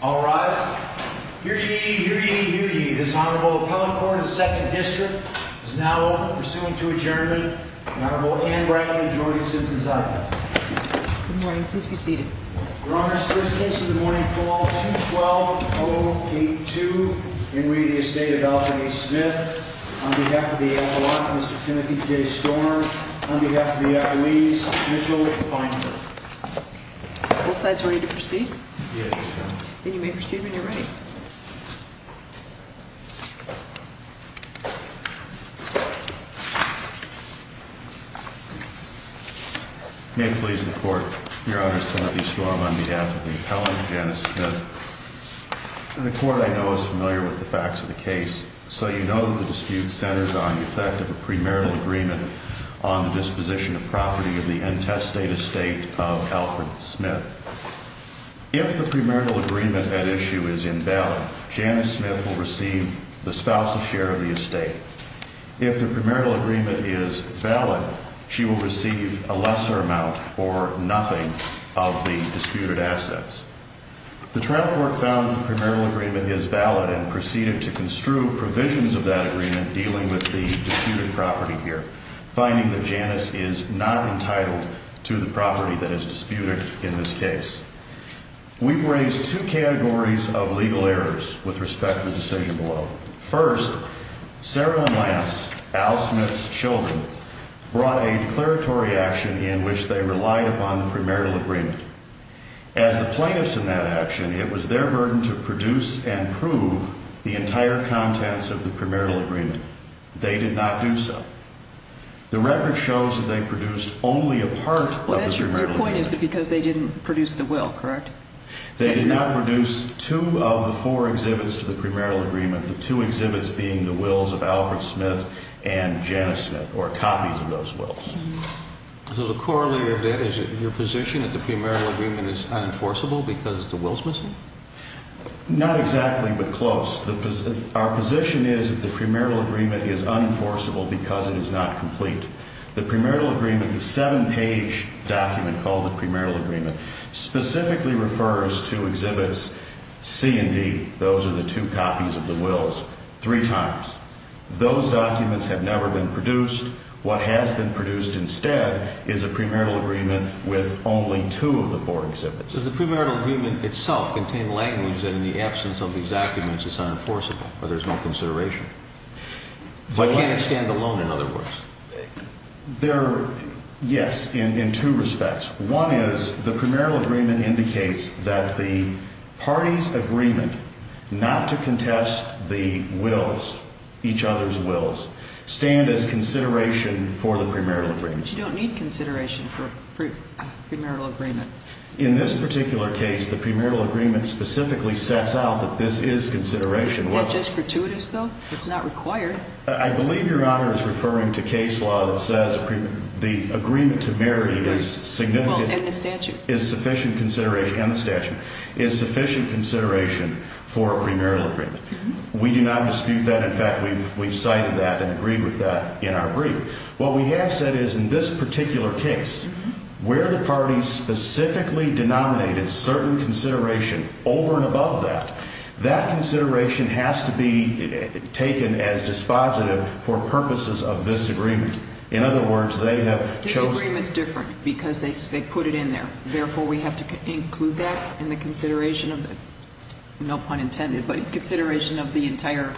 All rise. Hear ye, hear ye, hear ye. This Honorable Appellate Court of the 2nd District is now open. Pursuant to adjournment, the Honorable Anne Brackley and Jordan Simpson-Zachary. Good morning. Please be seated. Your Honors, first case of the morning, fall 2-12-0-8-2. Henry of the Estate of Valerie Smith. On behalf of the Avalanche, Mr. Timothy J. Storm. On behalf of the Ecolese, Mr. Mitchell Feinberg. Both sides ready to proceed? Yes, Your Honor. Then you may proceed when you're ready. May it please the Court. Your Honors, Timothy Storm on behalf of the Appellant, Janice Smith. The Court, I know, is familiar with the facts of the case. So you know that the dispute centers on the effect of a premarital agreement on the disposition of property of the intestate estate of Alfred Smith. If the premarital agreement at issue is invalid, Janice Smith will receive the spouse's share of the estate. If the premarital agreement is valid, she will receive a lesser amount or nothing of the disputed assets. We've raised two categories of legal errors with respect to the decision below. First, Sarah and Lance, Al Smith's children, brought a declaratory action in which they relied upon the premarital agreement. As the plaintiffs in that action, it was their burden to produce and prove the entire contents of the premarital agreement. They did not do so. The record shows that they produced only a part of the premarital agreement. Your point is that because they didn't produce the will, correct? They did not produce two of the four exhibits to the premarital agreement, the two exhibits being the wills of Alfred Smith and Janice Smith, or copies of those wills. So the corollary of that is your position that the premarital agreement is unenforceable because the will's missing? Not exactly, but close. Our position is that the premarital agreement is unenforceable because it is not complete. The premarital agreement, the seven-page document called the premarital agreement, specifically refers to exhibits C and D, those are the two copies of the wills, three times. Those documents have never been produced. What has been produced instead is a premarital agreement with only two of the four exhibits. Does the premarital agreement itself contain language that in the absence of these documents it's unenforceable or there's no consideration? Why can't it stand alone, in other words? Yes, in two respects. One is the premarital agreement indicates that the parties' agreement not to contest the wills, each other's wills, stand as consideration for the premarital agreement. But you don't need consideration for a premarital agreement. In this particular case, the premarital agreement specifically sets out that this is consideration. Isn't that just gratuitous, though? It's not required. I believe Your Honor is referring to case law that says the agreement to marry is significant. Well, and the statute. Is sufficient consideration, and the statute, is sufficient consideration for a premarital agreement. We do not dispute that. In fact, we've cited that and agreed with that in our brief. What we have said is in this particular case, where the parties specifically denominated certain consideration over and above that, that consideration has to be taken as dispositive for purposes of this agreement. In other words, they have chosen. This agreement's different because they put it in there. Therefore, we have to include that in the consideration of the, no pun intended, but consideration of the entire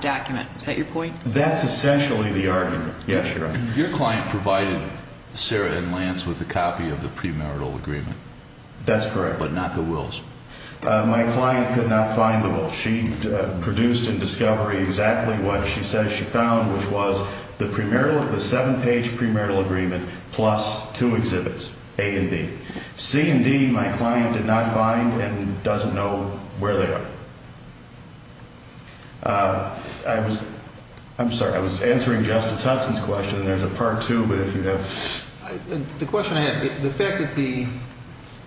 document. Is that your point? That's essentially the argument. Yes, Your Honor. Your client provided Sarah and Lance with a copy of the premarital agreement. That's correct. But not the wills. My client could not find the wills. She produced in discovery exactly what she says she found, which was the seven-page premarital agreement plus two exhibits, A and B. C and D, my client did not find and doesn't know where they are. I'm sorry. I was answering Justice Hudson's question, and there's a part two, but if you have. The question I have, the fact that the,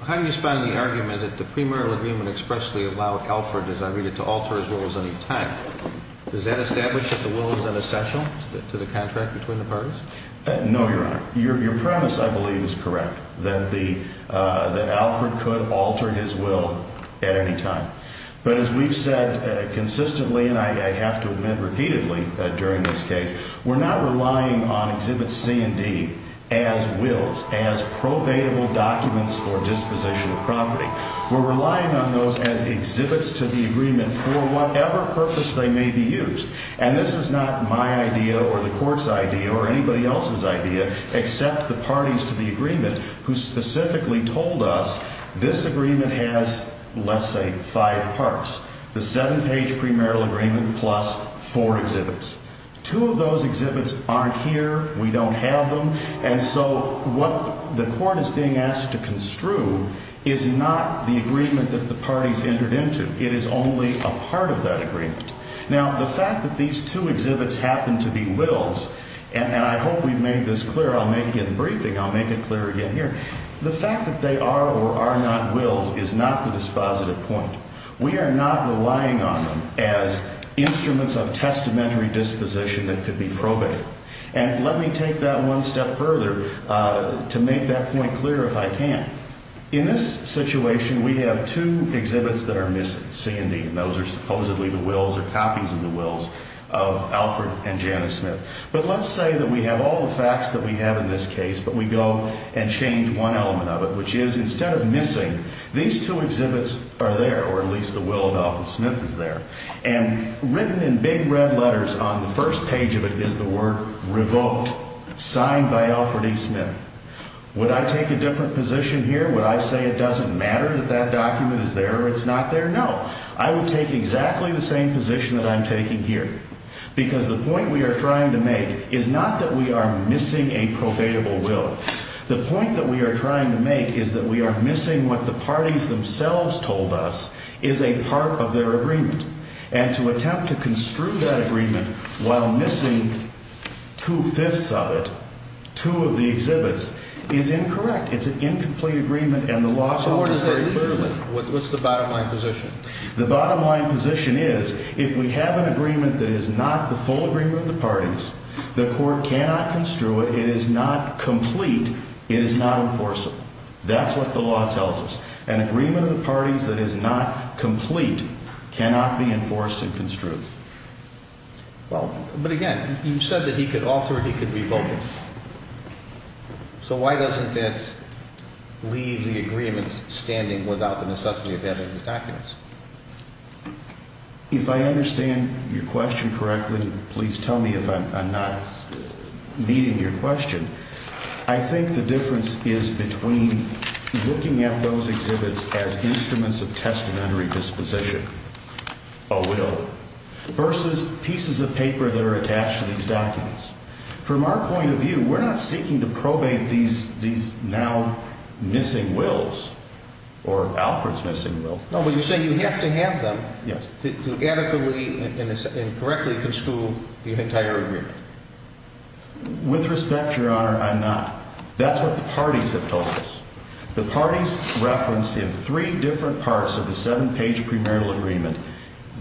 how do you respond to the argument that the premarital agreement expressly allowed Alford, as I read it, to alter his wills any time? Does that establish that the will is an essential to the contract between the parties? No, Your Honor. Your premise, I believe, is correct, that Alford could alter his will at any time. But as we've said consistently, and I have to admit repeatedly during this case, we're not relying on exhibits C and D as wills, as probatable documents for disposition of property. We're relying on those as exhibits to the agreement for whatever purpose they may be used. And this is not my idea or the court's idea or anybody else's idea. Except the parties to the agreement who specifically told us this agreement has, let's say, five parts. The seven-page premarital agreement plus four exhibits. Two of those exhibits aren't here. We don't have them. And so what the court is being asked to construe is not the agreement that the parties entered into. It is only a part of that agreement. Now, the fact that these two exhibits happen to be wills, and I hope we've made this clear. I'll make it in the briefing. I'll make it clear again here. The fact that they are or are not wills is not the dispositive point. We are not relying on them as instruments of testamentary disposition that could be probated. And let me take that one step further to make that point clear if I can. In this situation, we have two exhibits that are missing, C and D, and those are supposedly the wills or copies of the wills of Alford and Janice Smith. But let's say that we have all the facts that we have in this case, but we go and change one element of it, which is instead of missing, these two exhibits are there, or at least the will of Alford Smith is there, and written in big red letters on the first page of it is the word revoked, signed by Alford E. Smith. Would I take a different position here? Would I say it doesn't matter that that document is there or it's not there? No. I would take exactly the same position that I'm taking here because the point we are trying to make is not that we are missing a probatable will. The point that we are trying to make is that we are missing what the parties themselves told us is a part of their agreement. And to attempt to construe that agreement while missing two-fifths of it, two of the exhibits, is incorrect. It's an incomplete agreement, and the law offers it very clearly. So where does that leave you? What's the bottom line position? The bottom line position is if we have an agreement that is not the full agreement of the parties, the court cannot construe it, it is not complete, it is not enforceable. That's what the law tells us. An agreement of the parties that is not complete cannot be enforced and construed. Well, but again, you said that he could alter it, he could revoke it. So why doesn't that leave the agreement standing without the necessity of having these documents? If I understand your question correctly, please tell me if I'm not meeting your question. I think the difference is between looking at those exhibits as instruments of testamentary disposition, a will, versus pieces of paper that are attached to these documents. From our point of view, we're not seeking to probate these now missing wills, or Alfred's missing wills. No, but you're saying you have to have them to adequately and correctly construe the entire agreement. With respect, Your Honor, I'm not. That's what the parties have told us. The parties referenced in three different parts of the seven-page premarital agreement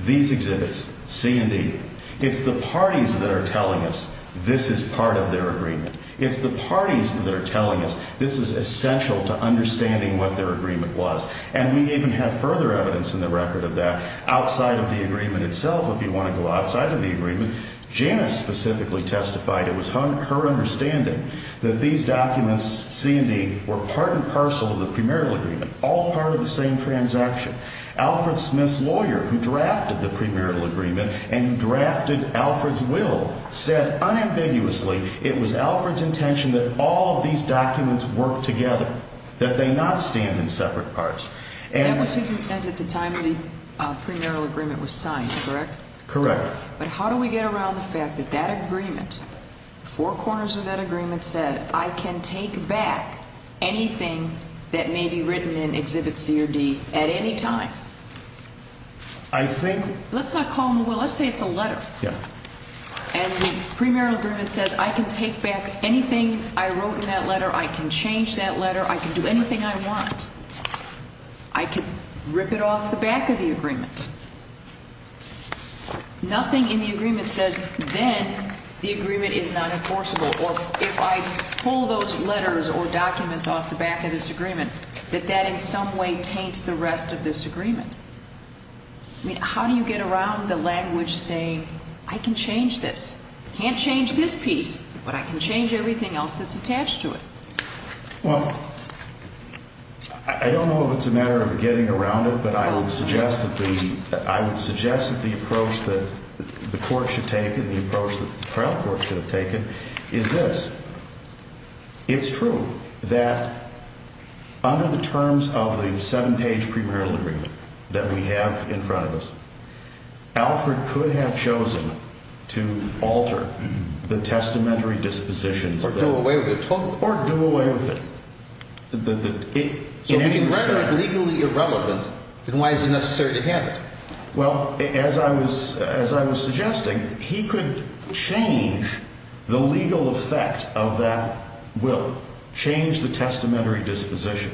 these exhibits, C and D. It's the parties that are telling us this is part of their agreement. It's the parties that are telling us this is essential to understanding what their agreement was. And we even have further evidence in the record of that. Outside of the agreement itself, if you want to go outside of the agreement, Janice specifically testified it was her understanding that these documents, C and D, were part and parcel of the premarital agreement, all part of the same transaction. Alfred Smith's lawyer who drafted the premarital agreement and who drafted Alfred's will said unambiguously it was Alfred's intention that all of these documents work together, that they not stand in separate parts. That was his intent at the time the premarital agreement was signed, correct? Correct. But how do we get around the fact that that agreement, four corners of that agreement said, I can take back anything that may be written in exhibit C or D at any time? I think Let's not call them a will, let's say it's a letter. Yeah. And the premarital agreement says I can take back anything I wrote in that letter, I can change that letter, I can do anything I want. I can rip it off the back of the agreement. Nothing in the agreement says then the agreement is not enforceable. Or if I pull those letters or documents off the back of this agreement, that that in some way taints the rest of this agreement. I mean, how do you get around the language saying I can change this? I can't change this piece, but I can change everything else that's attached to it. Well, I don't know if it's a matter of getting around it, but I would suggest that the approach that the court should take and the approach that the trial court should have taken is this. It's true that under the terms of the seven page premarital agreement that we have in front of us, So if you can write it legally irrelevant, then why is it necessary to have it? Well, as I was suggesting, he could change the legal effect of that will, change the testamentary disposition.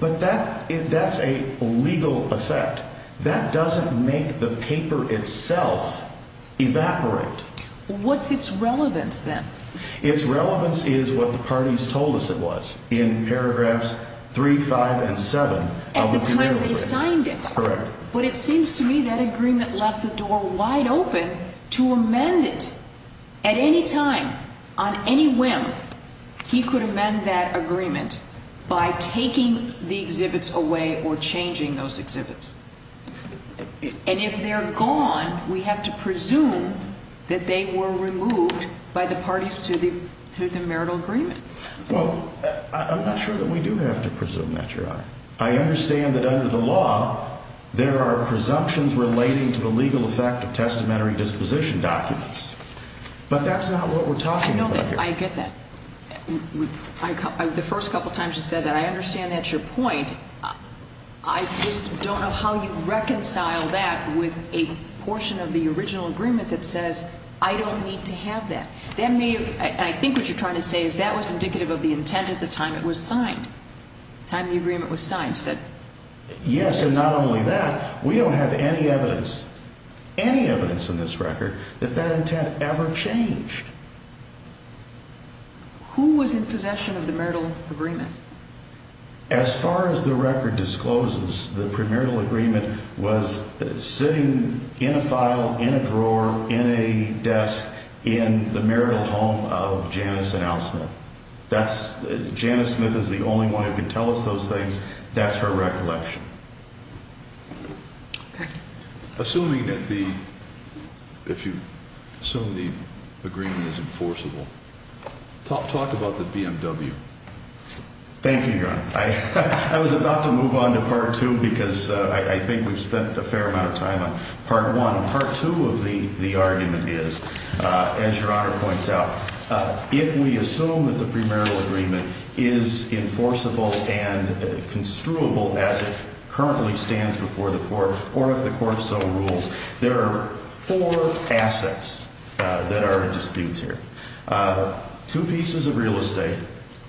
But that's a legal effect. That doesn't make the paper itself evaporate. What's its relevance then? Its relevance is what the parties told us it was in paragraphs three, five and seven. At the time they signed it. Correct. But it seems to me that agreement left the door wide open to amend it at any time on any whim. He could amend that agreement by taking the exhibits away or changing those exhibits. And if they're gone, we have to presume that they were removed by the parties to the marital agreement. Well, I'm not sure that we do have to presume that, Your Honor. I understand that under the law, there are presumptions relating to the legal effect of testamentary disposition documents. But that's not what we're talking about here. I know that. I get that. The first couple of times you said that, I understand that's your point. I just don't know how you reconcile that with a portion of the original agreement that says, I don't need to have that. That may have, and I think what you're trying to say is that was indicative of the intent at the time it was signed. The time the agreement was signed. Yes, and not only that, we don't have any evidence, any evidence in this record that that intent ever changed. Who was in possession of the marital agreement? As far as the record discloses, the premarital agreement was sitting in a file in a drawer in a desk in the marital home of Janice and Al Smith. Janice Smith is the only one who can tell us those things. That's her recollection. Assuming that the, if you assume the agreement is enforceable, talk about the BMW. Thank you, Your Honor. I was about to move on to Part 2 because I think we've spent a fair amount of time on Part 1. Part 2 of the argument is, as Your Honor points out, if we assume that the premarital agreement is enforceable and construable as it currently stands before the court, or if the court so rules, there are four assets that are at dispute here. Two pieces of real estate,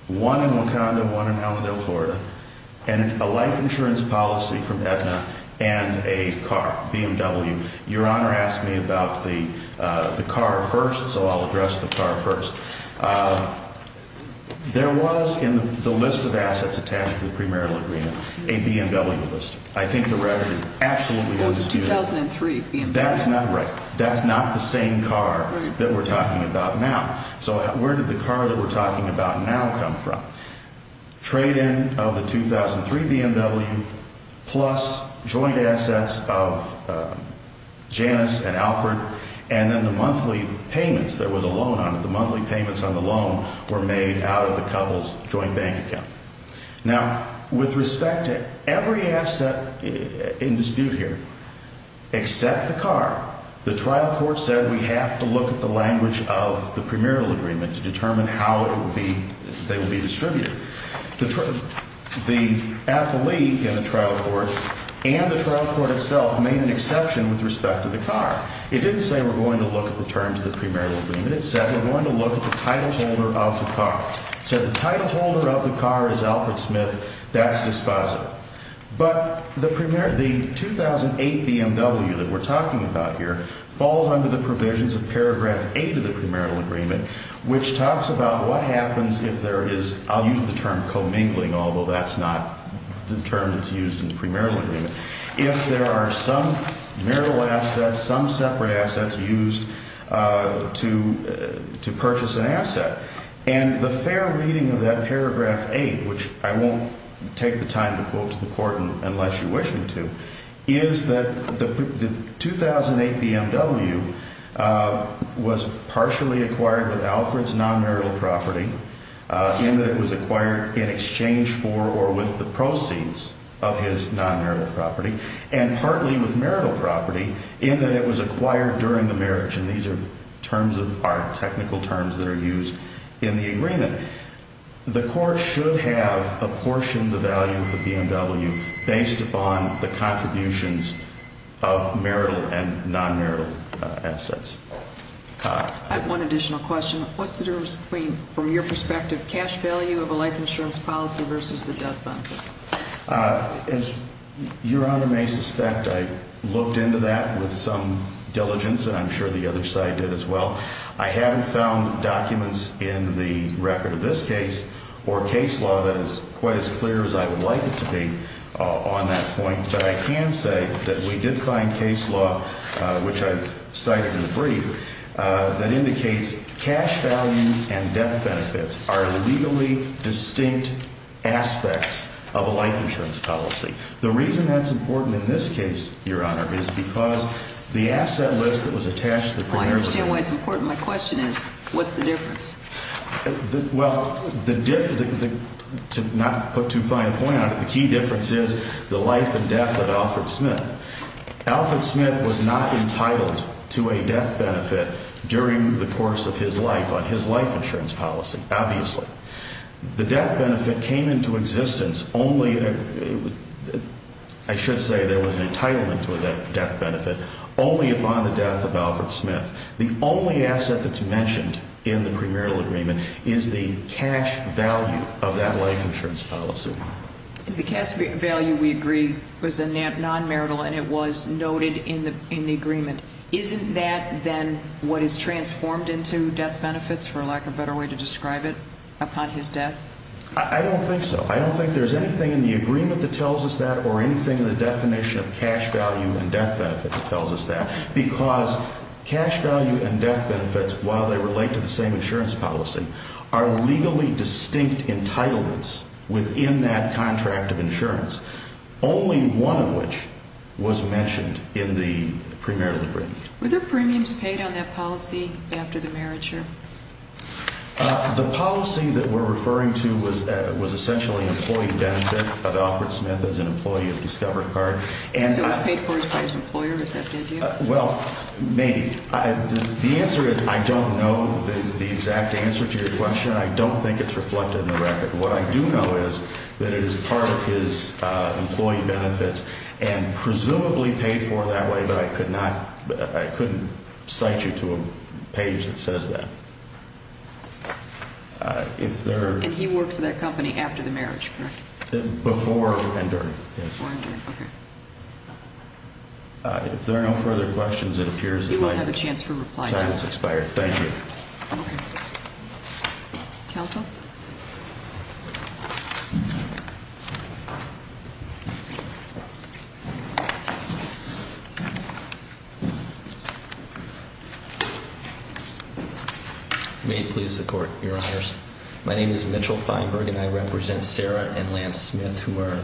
one in Wakanda, one in Elmendale, Florida, and a life insurance policy from Aetna, and a car, BMW. Your Honor asked me about the car first, so I'll address the car first. There was in the list of assets attached to the premarital agreement a BMW list. I think the record is absolutely undisputed. It was a 2003 BMW. That's not right. That's not the same car that we're talking about now. So where did the car that we're talking about now come from? Trade-in of the 2003 BMW, plus joint assets of Janice and Alfred, and then the monthly payments. There was a loan on it. The monthly payments on the loan were made out of the couple's joint bank account. Now, with respect to every asset in dispute here except the car, the trial court said we have to look at the language of the premarital agreement to determine how they will be distributed. The athlete in the trial court and the trial court itself made an exception with respect to the car. It didn't say we're going to look at the terms of the premarital agreement. It said we're going to look at the title holder of the car. It said the title holder of the car is Alfred Smith. That's dispositive. But the 2008 BMW that we're talking about here falls under the provisions of Paragraph 8 of the premarital agreement, which talks about what happens if there is, I'll use the term commingling, although that's not the term that's used in the premarital agreement, if there are some marital assets, some separate assets used to purchase an asset. And the fair reading of that Paragraph 8, which I won't take the time to quote to the court unless you wish me to, is that the 2008 BMW was partially acquired with Alfred's nonmarital property, in that it was acquired in exchange for or with the proceeds of his nonmarital property, and partly with marital property, in that it was acquired during the marriage. And these are terms of art, technical terms that are used in the agreement. The court should have apportioned the value of the BMW based upon the contributions of marital and nonmarital assets. I have one additional question. What's the difference between, from your perspective, cash value of a life insurance policy versus the death benefit? As Your Honor may suspect, I looked into that with some diligence, and I'm sure the other side did as well. I haven't found documents in the record of this case or case law that is quite as clear as I would like it to be on that point. But I can say that we did find case law, which I've cited in the brief, that indicates cash value and death benefits are legally distinct aspects of a life insurance policy. The reason that's important in this case, Your Honor, is because the asset list that was attached to the primary benefit. I understand why it's important. My question is, what's the difference? Well, to not put too fine a point on it, the key difference is the life and death of Alfred Smith. Alfred Smith was not entitled to a death benefit during the course of his life on his life insurance policy, obviously. The death benefit came into existence only, I should say there was an entitlement to a death benefit, only upon the death of Alfred Smith. The only asset that's mentioned in the premarital agreement is the cash value of that life insurance policy. The cash value, we agree, was a nonmarital and it was noted in the agreement. Isn't that then what is transformed into death benefits, for lack of a better way to describe it, upon his death? I don't think so. I don't think there's anything in the agreement that tells us that or anything in the definition of cash value and death benefit that tells us that. Because cash value and death benefits, while they relate to the same insurance policy, are legally distinct entitlements within that contract of insurance. Only one of which was mentioned in the premarital agreement. Were there premiums paid on that policy after the marriage? The policy that we're referring to was essentially employee benefit of Alfred Smith as an employee of Discover Card. So it was paid for by his employer, is that the idea? Well, maybe. The answer is I don't know the exact answer to your question. I don't think it's reflected in the record. What I do know is that it is part of his employee benefits and presumably paid for that way, but I couldn't cite you to a page that says that. And he worked for that company after the marriage, correct? Before and during, yes. Before and during, okay. If there are no further questions, it appears that my time has expired. Thank you. Okay. Counsel? May it please the Court, Your Honors. My name is Mitchell Feinberg and I represent Sarah and Lance Smith who are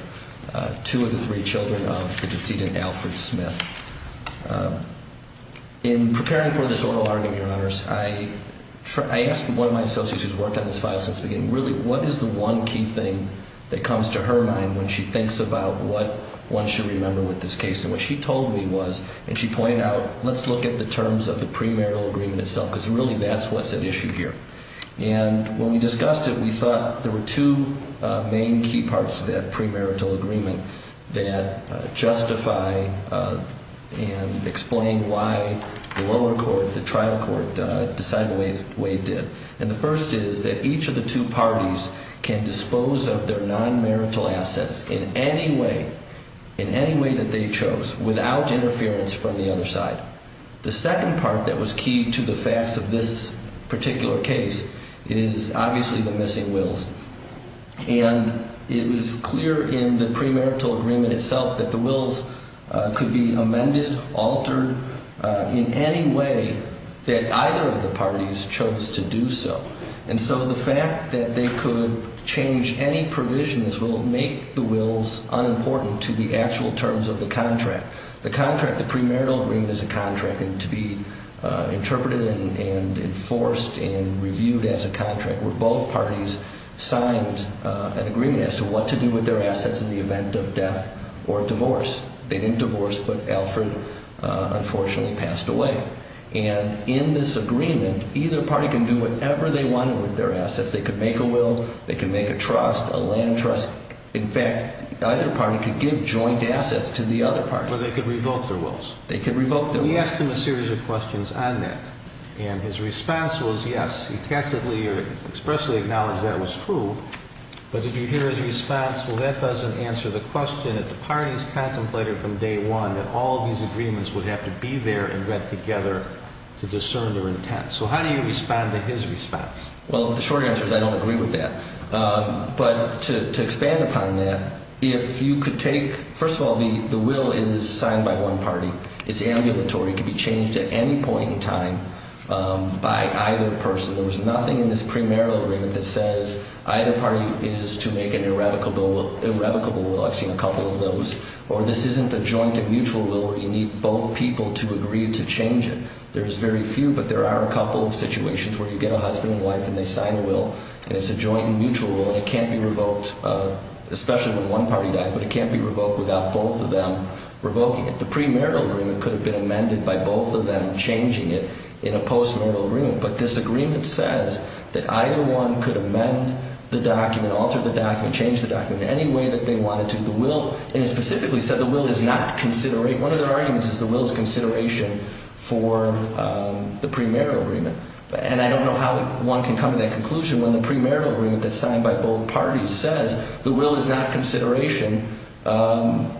two of the three children of the decedent, Alfred Smith. In preparing for this oral argument, Your Honors, I asked one of my associates who's worked on this file since the beginning, really what is the one key thing that comes to her mind when she thinks about what one should remember with this case? And what she told me was, and she pointed out, let's look at the terms of the premarital agreement itself because really that's what's at issue here. And when we discussed it, we thought there were two main key parts to that premarital agreement that justify and explain why the lower court, the trial court, decided the way it did. And the first is that each of the two parties can dispose of their nonmarital assets in any way, in any way that they chose, without interference from the other side. The second part that was key to the facts of this particular case is obviously the missing wills. And it was clear in the premarital agreement itself that the wills could be amended, altered, in any way that either of the parties chose to do so. And so the fact that they could change any provisions will make the wills unimportant to the actual terms of the contract. The contract, the premarital agreement is a contract, and to be interpreted and enforced and reviewed as a contract were both parties signed an agreement as to what to do with their assets in the event of death or divorce. They didn't divorce, but Alfred unfortunately passed away. And in this agreement, either party can do whatever they wanted with their assets. They could make a will, they could make a trust, a land trust. In fact, either party could give joint assets to the other party. Well, they could revoke their wills. They could revoke their wills. We asked him a series of questions on that, and his response was yes. He tacitly or expressly acknowledged that was true. But did you hear his response, well, that doesn't answer the question that the parties contemplated from day one that all these agreements would have to be there and read together to discern their intent. So how do you respond to his response? Well, the short answer is I don't agree with that. But to expand upon that, if you could take, first of all, the will is signed by one party. It's ambulatory. It could be changed at any point in time by either person. There was nothing in this premarital agreement that says either party is to make an irrevocable will. I've seen a couple of those. Or this isn't a joint and mutual will where you need both people to agree to change it. There's very few, but there are a couple of situations where you get a husband and wife and they sign a will, and it's a joint and mutual will, and it can't be revoked, especially when one party dies, but it can't be revoked without both of them revoking it. The premarital agreement could have been amended by both of them changing it in a postmarital agreement. But this agreement says that either one could amend the document, alter the document, change the document any way that they wanted to. The will, and it specifically said the will is not to considerate. One of their arguments is the will is consideration for the premarital agreement. And I don't know how one can come to that conclusion when the premarital agreement that's signed by both parties says the will is not consideration. And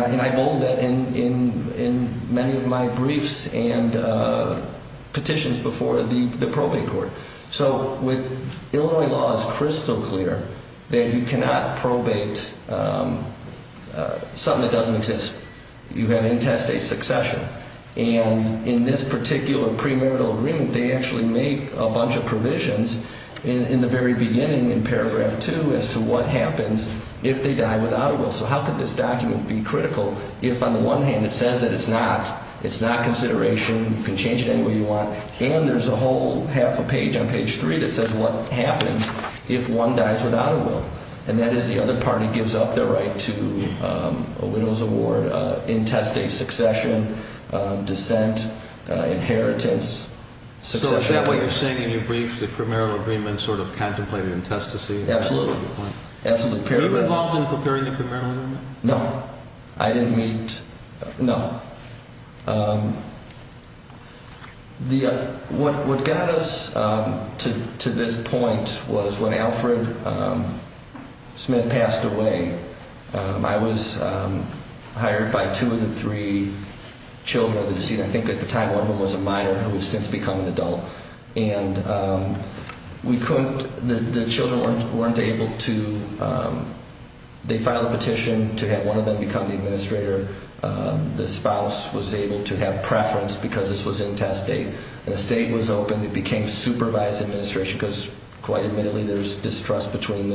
I've owned that in many of my briefs and petitions before the probate court. So with Illinois law, it's crystal clear that you cannot probate something that doesn't exist. You have intestate succession. And in this particular premarital agreement, they actually make a bunch of provisions in the very beginning in paragraph 2 as to what happens if they die without a will. So how could this document be critical if on the one hand it says that it's not consideration, you can change it any way you want, and there's a whole half a page on page 3 that says what happens if one dies without a will, and that is the other party gives up their right to a widow's award, intestate succession, descent, inheritance. So is that what you're saying in your brief, the premarital agreement sort of contemplated intestacy? Absolutely. Were you involved in preparing the premarital agreement? No. I didn't meet. No. What got us to this point was when Alfred Smith passed away, I was hired by two of the three children of the decedent. I think at the time one of them was a minor who has since become an adult. And we couldn't, the children weren't able to, they filed a petition to have one of them become the administrator. The spouse was able to have preference because this was intestate. And the state was open. It became supervised administration because quite admittedly there's distrust between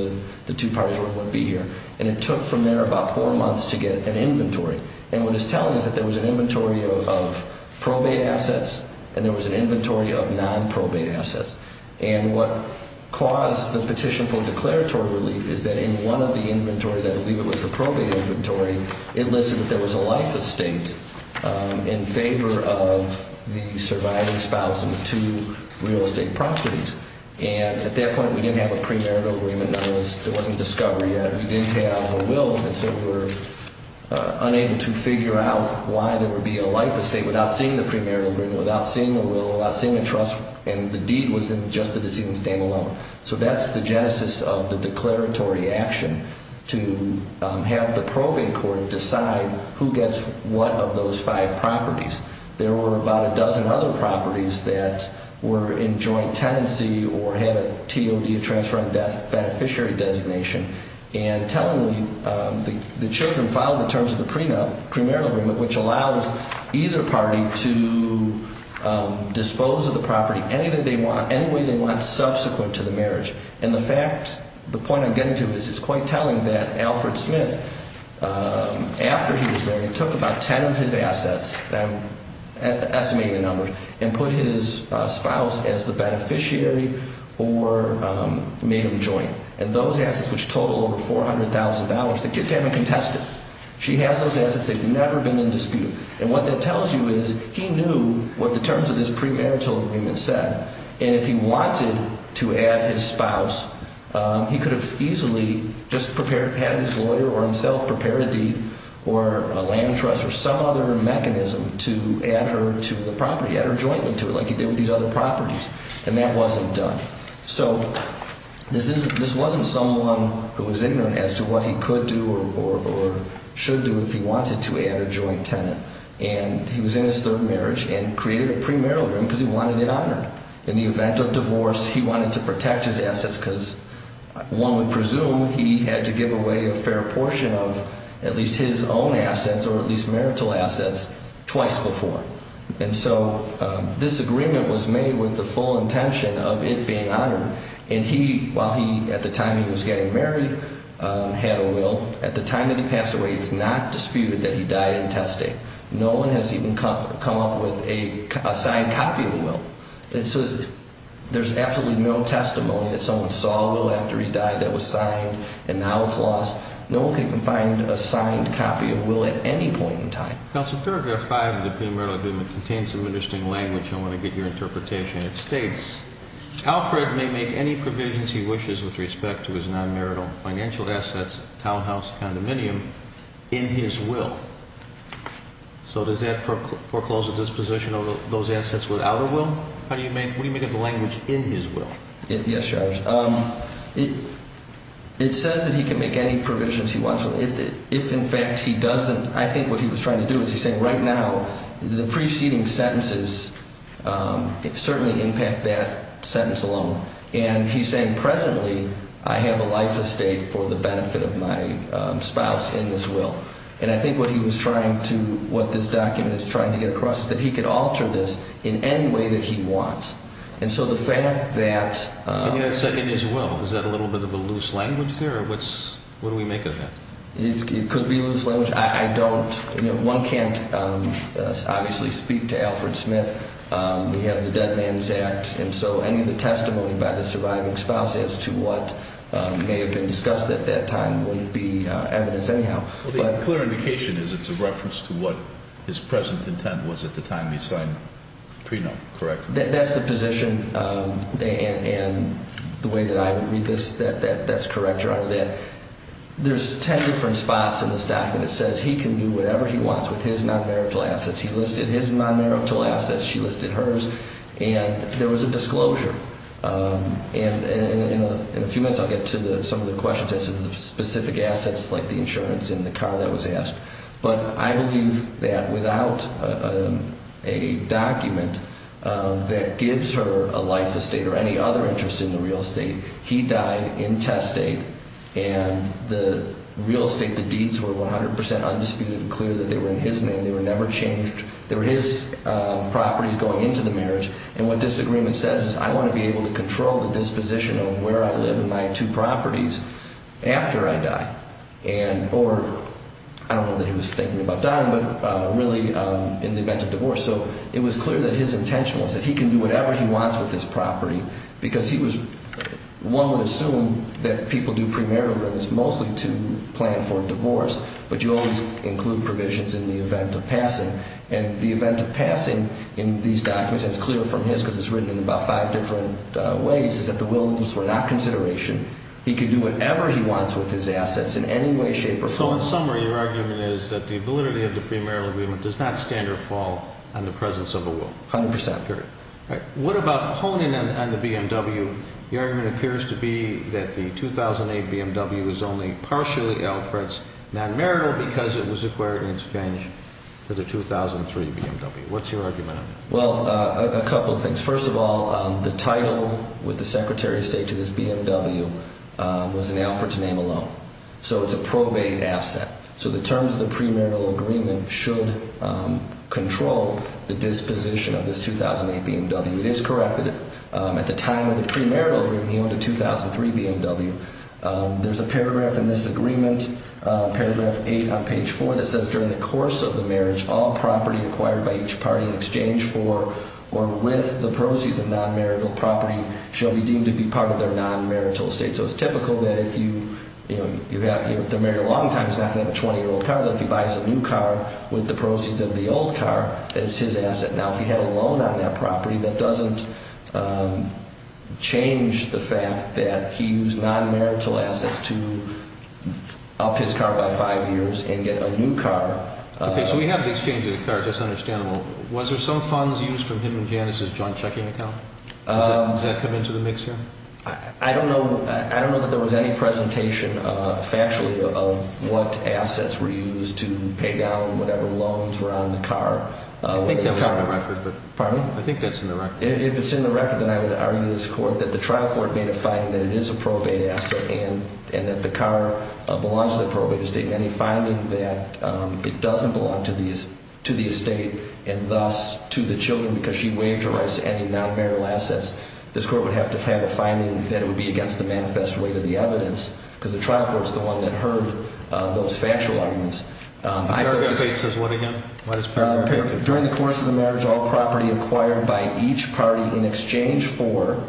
the two parties where it wouldn't be here. And it took from there about four months to get an inventory. And what it's telling us is that there was an inventory of probate assets and there was an inventory of non-probate assets. And what caused the petition for declaratory relief is that in one of the inventories, I believe it was the probate inventory, it listed that there was a life estate in favor of the surviving spouse and two real estate properties. And at that point we didn't have a premarital agreement. There wasn't discovery yet. We didn't have a will, and so we were unable to figure out why there would be a life estate without seeing the premarital agreement, without seeing the will, without seeing the trust. And the deed was in just the decedent's name alone. So that's the genesis of the declaratory action to have the probate court decide who gets what of those five properties. There were about a dozen other properties that were in joint tenancy or had a TOD, a transfer of beneficiary designation, and telling the children, following the terms of the premarital agreement, which allows either party to dispose of the property any way they want subsequent to the marriage. And the fact, the point I'm getting to is it's quite telling that Alfred Smith, after he was married, took about ten of his assets, and I'm estimating the numbers, and put his spouse as the beneficiary or made him joint. And those assets, which total over $400,000, the kids haven't contested. She has those assets. They've never been in dispute. And what that tells you is he knew what the terms of this premarital agreement said, and if he wanted to add his spouse, he could have easily just prepared, had his lawyer or himself prepare a deed or a land trust or some other mechanism to add her to the property, add her jointly to it, like he did with these other properties, and that wasn't done. So this wasn't someone who was ignorant as to what he could do or should do if he wanted to add a joint tenant. And he was in his third marriage and created a premarital agreement because he wanted it honored. In the event of divorce, he wanted to protect his assets because one would presume he had to give away a fair portion of at least his own assets or at least marital assets twice before. And so this agreement was made with the full intention of it being honored. And he, while he, at the time he was getting married, had a will, at the time that he passed away, it's not disputed that he died in testing. No one has even come up with a signed copy of the will. There's absolutely no testimony that someone saw a will after he died that was signed and now it's lost. No one can find a signed copy of a will at any point in time. Counsel, paragraph 5 of the premarital agreement contains some interesting language. I want to get your interpretation. It states, Alfred may make any provisions he wishes with respect to his non-marital financial assets, townhouse, condominium, in his will. So does that foreclose a disposition of those assets without a will? How do you make, what do you make of the language in his will? Yes, Judge. It says that he can make any provisions he wants. If, in fact, he doesn't, I think what he was trying to do is he's saying right now the preceding sentences certainly impact that sentence alone. And he's saying presently I have a life estate for the benefit of my spouse in this will. And I think what he was trying to, what this document is trying to get across is that he could alter this in any way that he wants. And so the fact that... In his will, is that a little bit of a loose language there? What do we make of that? It could be loose language. I don't, you know, one can't obviously speak to Alfred Smith. We have the Dead Man's Act. And so any of the testimony by the surviving spouse as to what may have been discussed at that time wouldn't be evidence anyhow. Well, the clear indication is it's a reference to what his present intent was at the time he signed the prenup, correct? That's the position. And the way that I would read this, that's correct. There's ten different spots in this document that says he can do whatever he wants with his non-marital assets. He listed his non-marital assets. She listed hers. And there was a disclosure. And in a few minutes I'll get to some of the questions as to the specific assets like the insurance and the car that was asked. But I believe that without a document that gives her a life estate or any other interest in the real estate, he died in test date. And the real estate, the deeds were 100% undisputed and clear that they were in his name. They were never changed. They were his properties going into the marriage. And what this agreement says is I want to be able to control the disposition of where I live and my two properties after I die. Or I don't know that he was thinking about dying, but really in the event of divorce. So it was clear that his intention was that he can do whatever he wants with his property because he was one would assume that people do premarital agreements mostly to plan for a divorce, but you always include provisions in the event of passing. And the event of passing in these documents, and it's clear from his because it's written in about five different ways, is that the wills were not consideration. He could do whatever he wants with his assets in any way, shape or form. So in summary, your argument is that the validity of the premarital agreement does not stand or fall on the presence of the will. 100%. What about honing in on the BMW? The argument appears to be that the 2008 BMW is only partially Alfred's non-marital because it was acquired in exchange for the 2003 BMW. What's your argument on that? Well, a couple of things. First of all, the title with the secretary of state to this BMW was an Alfred to name alone. So it's a probate asset. So the terms of the premarital agreement should control the disposition of this 2008 BMW. It is correct that at the time of the premarital agreement, he owned a 2003 BMW. There's a paragraph in this agreement, paragraph eight on page four, that says during the course of the marriage, all property acquired by each party in the proceeds of non-marital property shall be deemed to be part of their non-marital estate. So it's typical that if they're married a long time, he's not going to have a 20-year-old car. But if he buys a new car with the proceeds of the old car, that is his asset. Now, if he had a loan on that property, that doesn't change the fact that he used non-marital assets to up his car by five years and get a new car. Okay, so we have the exchange of the car. That's understandable. Was there some funds used from him and Janice's joint checking account? Does that come into the mix here? I don't know. I don't know that there was any presentation factually of what assets were used to pay down whatever loans were on the car. I think that was on the record. Pardon me? I think that's in the record. If it's in the record, then I would argue in this court that the trial court made a finding that it is a probate asset and that the car belongs to the probate estate. Any finding that it doesn't belong to the estate and thus to the children because she waived her rights to any non-marital assets, this court would have to have a finding that it would be against the manifest weight of the evidence because the trial court is the one that heard those factual arguments. The paragraph 8 says what again? What is paragraph 8? During the course of the marriage, all property acquired by each party in exchange for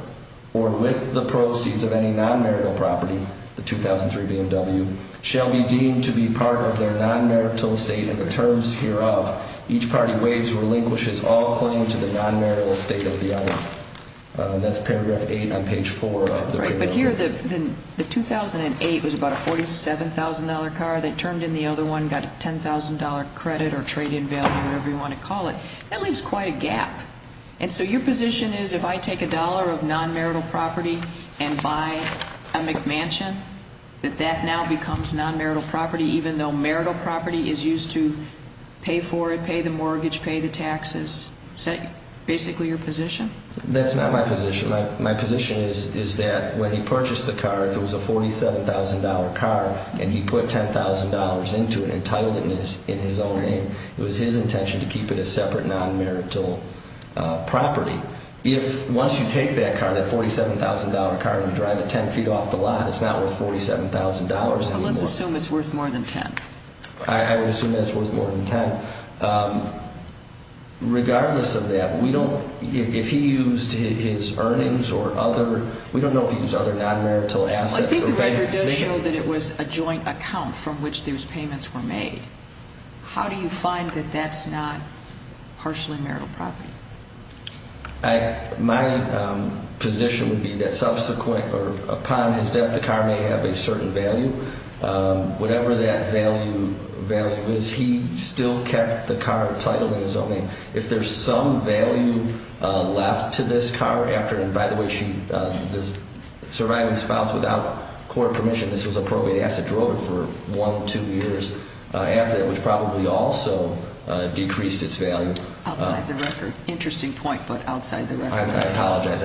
or with the proceeds of any non-marital property, the 2003 BMW, shall be deemed to be part of their non-marital estate in the terms hereof. Each party waives or relinquishes all claim to the non-marital estate of the other. That's paragraph 8 on page 4 of the paragraph 8. Right, but here the 2008 was about a $47,000 car. They turned in the other one, got a $10,000 credit or trade-in value, whatever you want to call it. That leaves quite a gap. And so your position is if I take a dollar of non-marital property and buy a McMansion, that that now becomes non-marital property even though marital property is used to pay for it, pay the mortgage, pay the taxes. Is that basically your position? That's not my position. My position is that when he purchased the car, if it was a $47,000 car and he put $10,000 into it and titled it in his own name, it was his intention to keep it as separate non-marital property. If once you take that car, that $47,000 car, and you drive it 10 feet off the lot, it's not worth $47,000 anymore. But let's assume it's worth more than $10,000. I would assume that it's worth more than $10,000. Regardless of that, we don't, if he used his earnings or other, we don't know if he used other non-marital assets. I think the record does show that it was a joint account from which those payments were made. How do you find that that's not partially marital property? My position would be that subsequent or upon his death, the car may have a certain value. Whatever that value is, he still kept the car titled in his own name. If there's some value left to this car after, and by the way, the surviving spouse without court permission, this was a probate asset, drove it for one or two years after that, which probably also decreased its value. Outside the record. Interesting point, but outside the record. I apologize.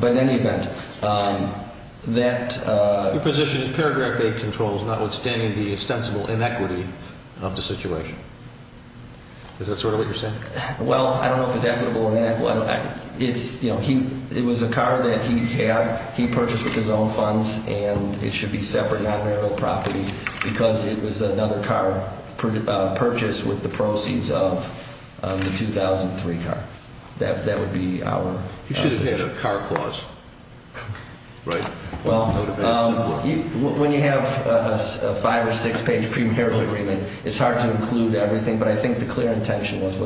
But in any event, that... Your position is paragraph 8 controls notwithstanding the ostensible inequity of the situation. Is that sort of what you're saying? Well, I don't know if it's equitable or inequitable. It was a car that he had, he purchased with his own funds, and it should be separate non-marital property because it was another car purchased with the proceeds of the 2003 car. That would be our position. He should have had a car clause. Right. When you have a five- or six-page premarital agreement, it's hard to include everything, but I think the clear intention was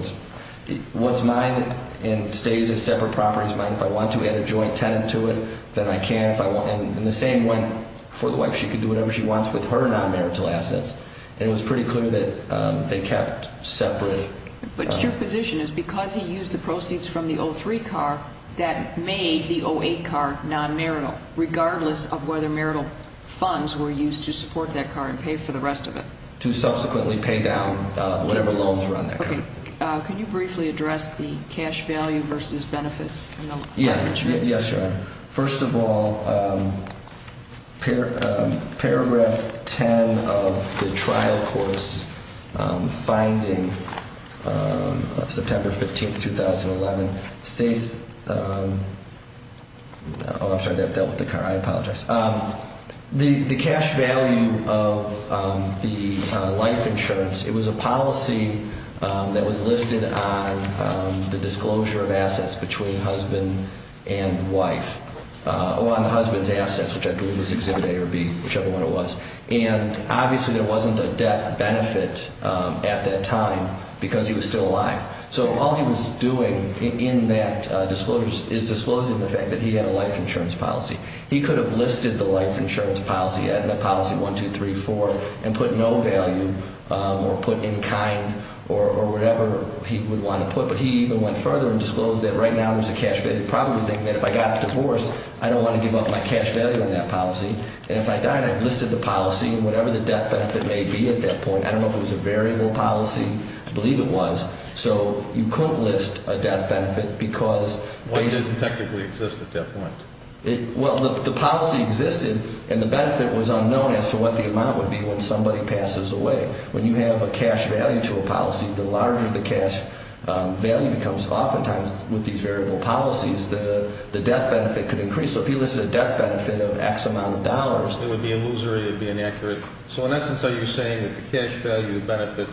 what's mine and stays as separate property is mine. If I want to add a joint tenant to it, then I can. And the same went for the wife. She could do whatever she wants with her non-marital assets, and it was pretty clear that they kept separate. But your position is because he used the proceeds from the 2003 car, that made the 2008 car non-marital, regardless of whether marital funds were used to support that car and pay for the rest of it. To subsequently pay down whatever loans were on that car. Okay. Can you briefly address the cash value versus benefits? Yeah. Yes, Your Honor. First of all, Paragraph 10 of the trial course finding, September 15, 2011, states – oh, I'm sorry, that dealt with the car. I apologize. The cash value of the life insurance, it was a policy that was listed on the disclosure of assets between husband and wife, or on the husband's assets, which I believe was Exhibit A or B, whichever one it was. And obviously there wasn't a death benefit at that time because he was still alive. So all he was doing in that disclosure is disclosing the fact that he had a life insurance policy. He could have listed the life insurance policy, policy 1, 2, 3, 4, and put no value or put in kind or whatever he would want to put. But he even went further and disclosed that right now there's a cash value. Probably thinking that if I got divorced, I don't want to give up my cash value on that policy. And if I died, I'd listed the policy and whatever the death benefit may be at that point. I don't know if it was a variable policy. I believe it was. So you couldn't list a death benefit because – Why didn't it technically exist at that point? Well, the policy existed and the benefit was unknown as to what the amount would be when somebody passes away. When you have a cash value to a policy, the larger the cash value becomes. Oftentimes with these variable policies, the death benefit could increase. So if he listed a death benefit of X amount of dollars – It would be illusory. It would be inaccurate. So in essence, are you saying that the cash value benefit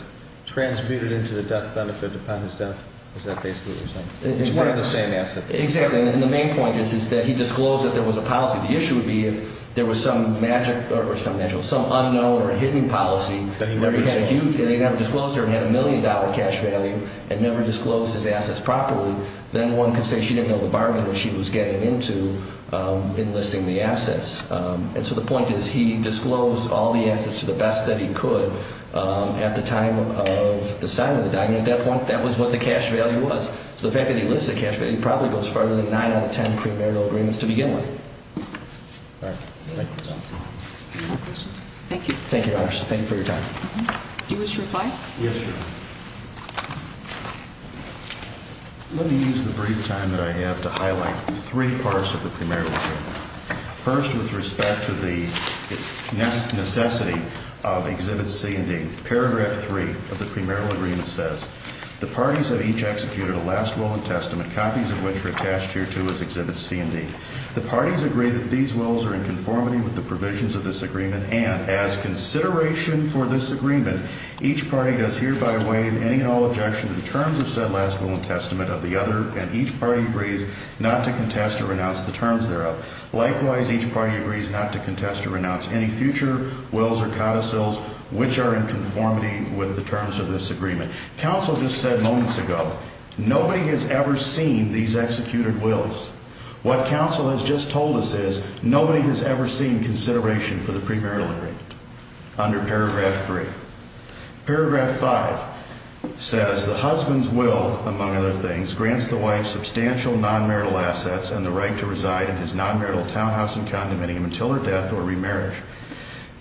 transmuted into the death benefit upon his death? Is that basically what you're saying? Which is not the same asset. Exactly, and the main point is that he disclosed that there was a policy. The issue would be if there was some magic – or some magic – some unknown or hidden policy – That he never disclosed. That he never disclosed or had a million-dollar cash value and never disclosed his assets properly, then one could say she didn't know the bargain that she was getting into in listing the assets. And so the point is he disclosed all the assets to the best that he could at the time of the signing of the document. At that point, that was what the cash value was. So the fact that he listed a cash value probably goes farther than 9 out of 10 premarital agreements to begin with. All right. Thank you, Your Honor. Any other questions? Thank you. Thank you, Your Honor. Thank you for your time. Do you wish to reply? Yes, Your Honor. Let me use the brief time that I have to highlight three parts of the premarital agreement. First, with respect to the necessity of Exhibit C and D, Paragraph 3 of the premarital agreement says, The parties have each executed a last will and testament, copies of which are attached here to as Exhibit C and D. The parties agree that these wills are in conformity with the provisions of this agreement, and as consideration for this agreement, each party does hereby waive any and all objection to the terms of said last will and testament of the other, and each party agrees not to contest or renounce the terms thereof. Likewise, each party agrees not to contest or renounce any future wills or codicils which are in conformity with the terms of this agreement. Counsel just said moments ago, nobody has ever seen these executed wills. What counsel has just told us is, nobody has ever seen consideration for the premarital agreement under Paragraph 3. Paragraph 5 says, The husband's will, among other things, grants the wife substantial nonmarital assets and the right to reside in his nonmarital townhouse and condominium until her death or remarriage.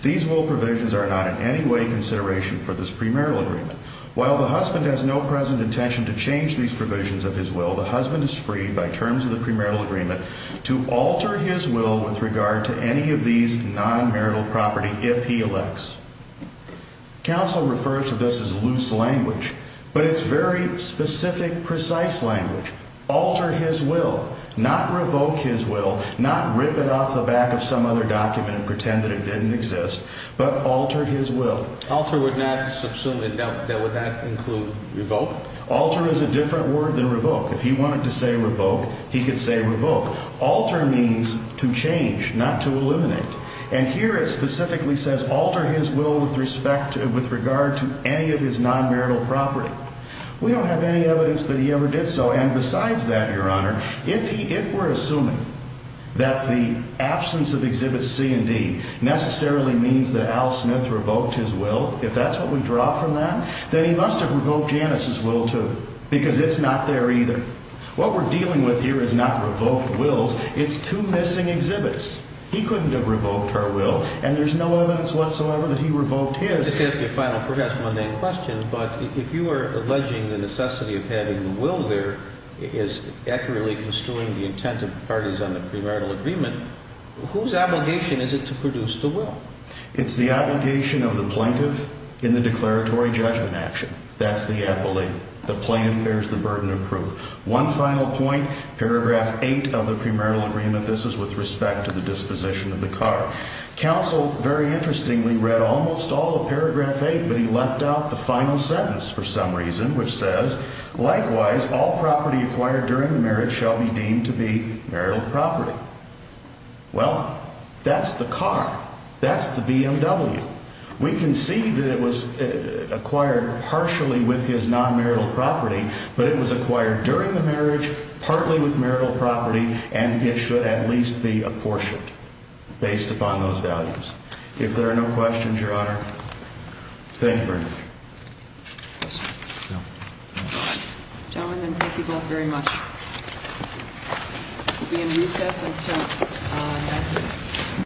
These will provisions are not in any way consideration for this premarital agreement. While the husband has no present intention to change these provisions of his will, the husband is free, by terms of the premarital agreement, to alter his will with regard to any of these nonmarital property if he elects. Counsel refers to this as loose language, but it's very specific, precise language. Alter his will, not revoke his will, not rip it off the back of some other document and pretend that it didn't exist, but alter his will. Alter would not, that would not include revoke? Alter is a different word than revoke. If he wanted to say revoke, he could say revoke. Alter means to change, not to eliminate. And here it specifically says alter his will with respect to, with regard to any of his nonmarital property. We don't have any evidence that he ever did so, and besides that, Your Honor, if he, if we're assuming that the absence of Exhibits C and D necessarily means that Al Smith revoked his will, if that's what we draw from that, then he must have revoked Janice's will too, because it's not there either. What we're dealing with here is not revoked wills, it's two missing exhibits. He couldn't have revoked her will, and there's no evidence whatsoever that he revoked his. Let's ask a final perhaps mundane question, but if you are alleging the necessity of having the will there as accurately construing the intent of parties on the premarital agreement, whose obligation is it to produce the will? It's the obligation of the plaintiff in the declaratory judgment action. That's the appellate. The plaintiff bears the burden of proof. One final point, Paragraph 8 of the premarital agreement. This is with respect to the disposition of the car. Counsel, very interestingly, read almost all of Paragraph 8, but he left out the final sentence for some reason, which says, likewise, all property acquired during the marriage shall be deemed to be marital property. Well, that's the car. That's the BMW. We can see that it was acquired partially with his non-marital property, but it was acquired during the marriage, partly with marital property, and it should at least be apportioned based upon those values. If there are no questions, Your Honor, thank you very much. Gentlemen, then, thank you both very much. We'll be in recess until 9 p.m.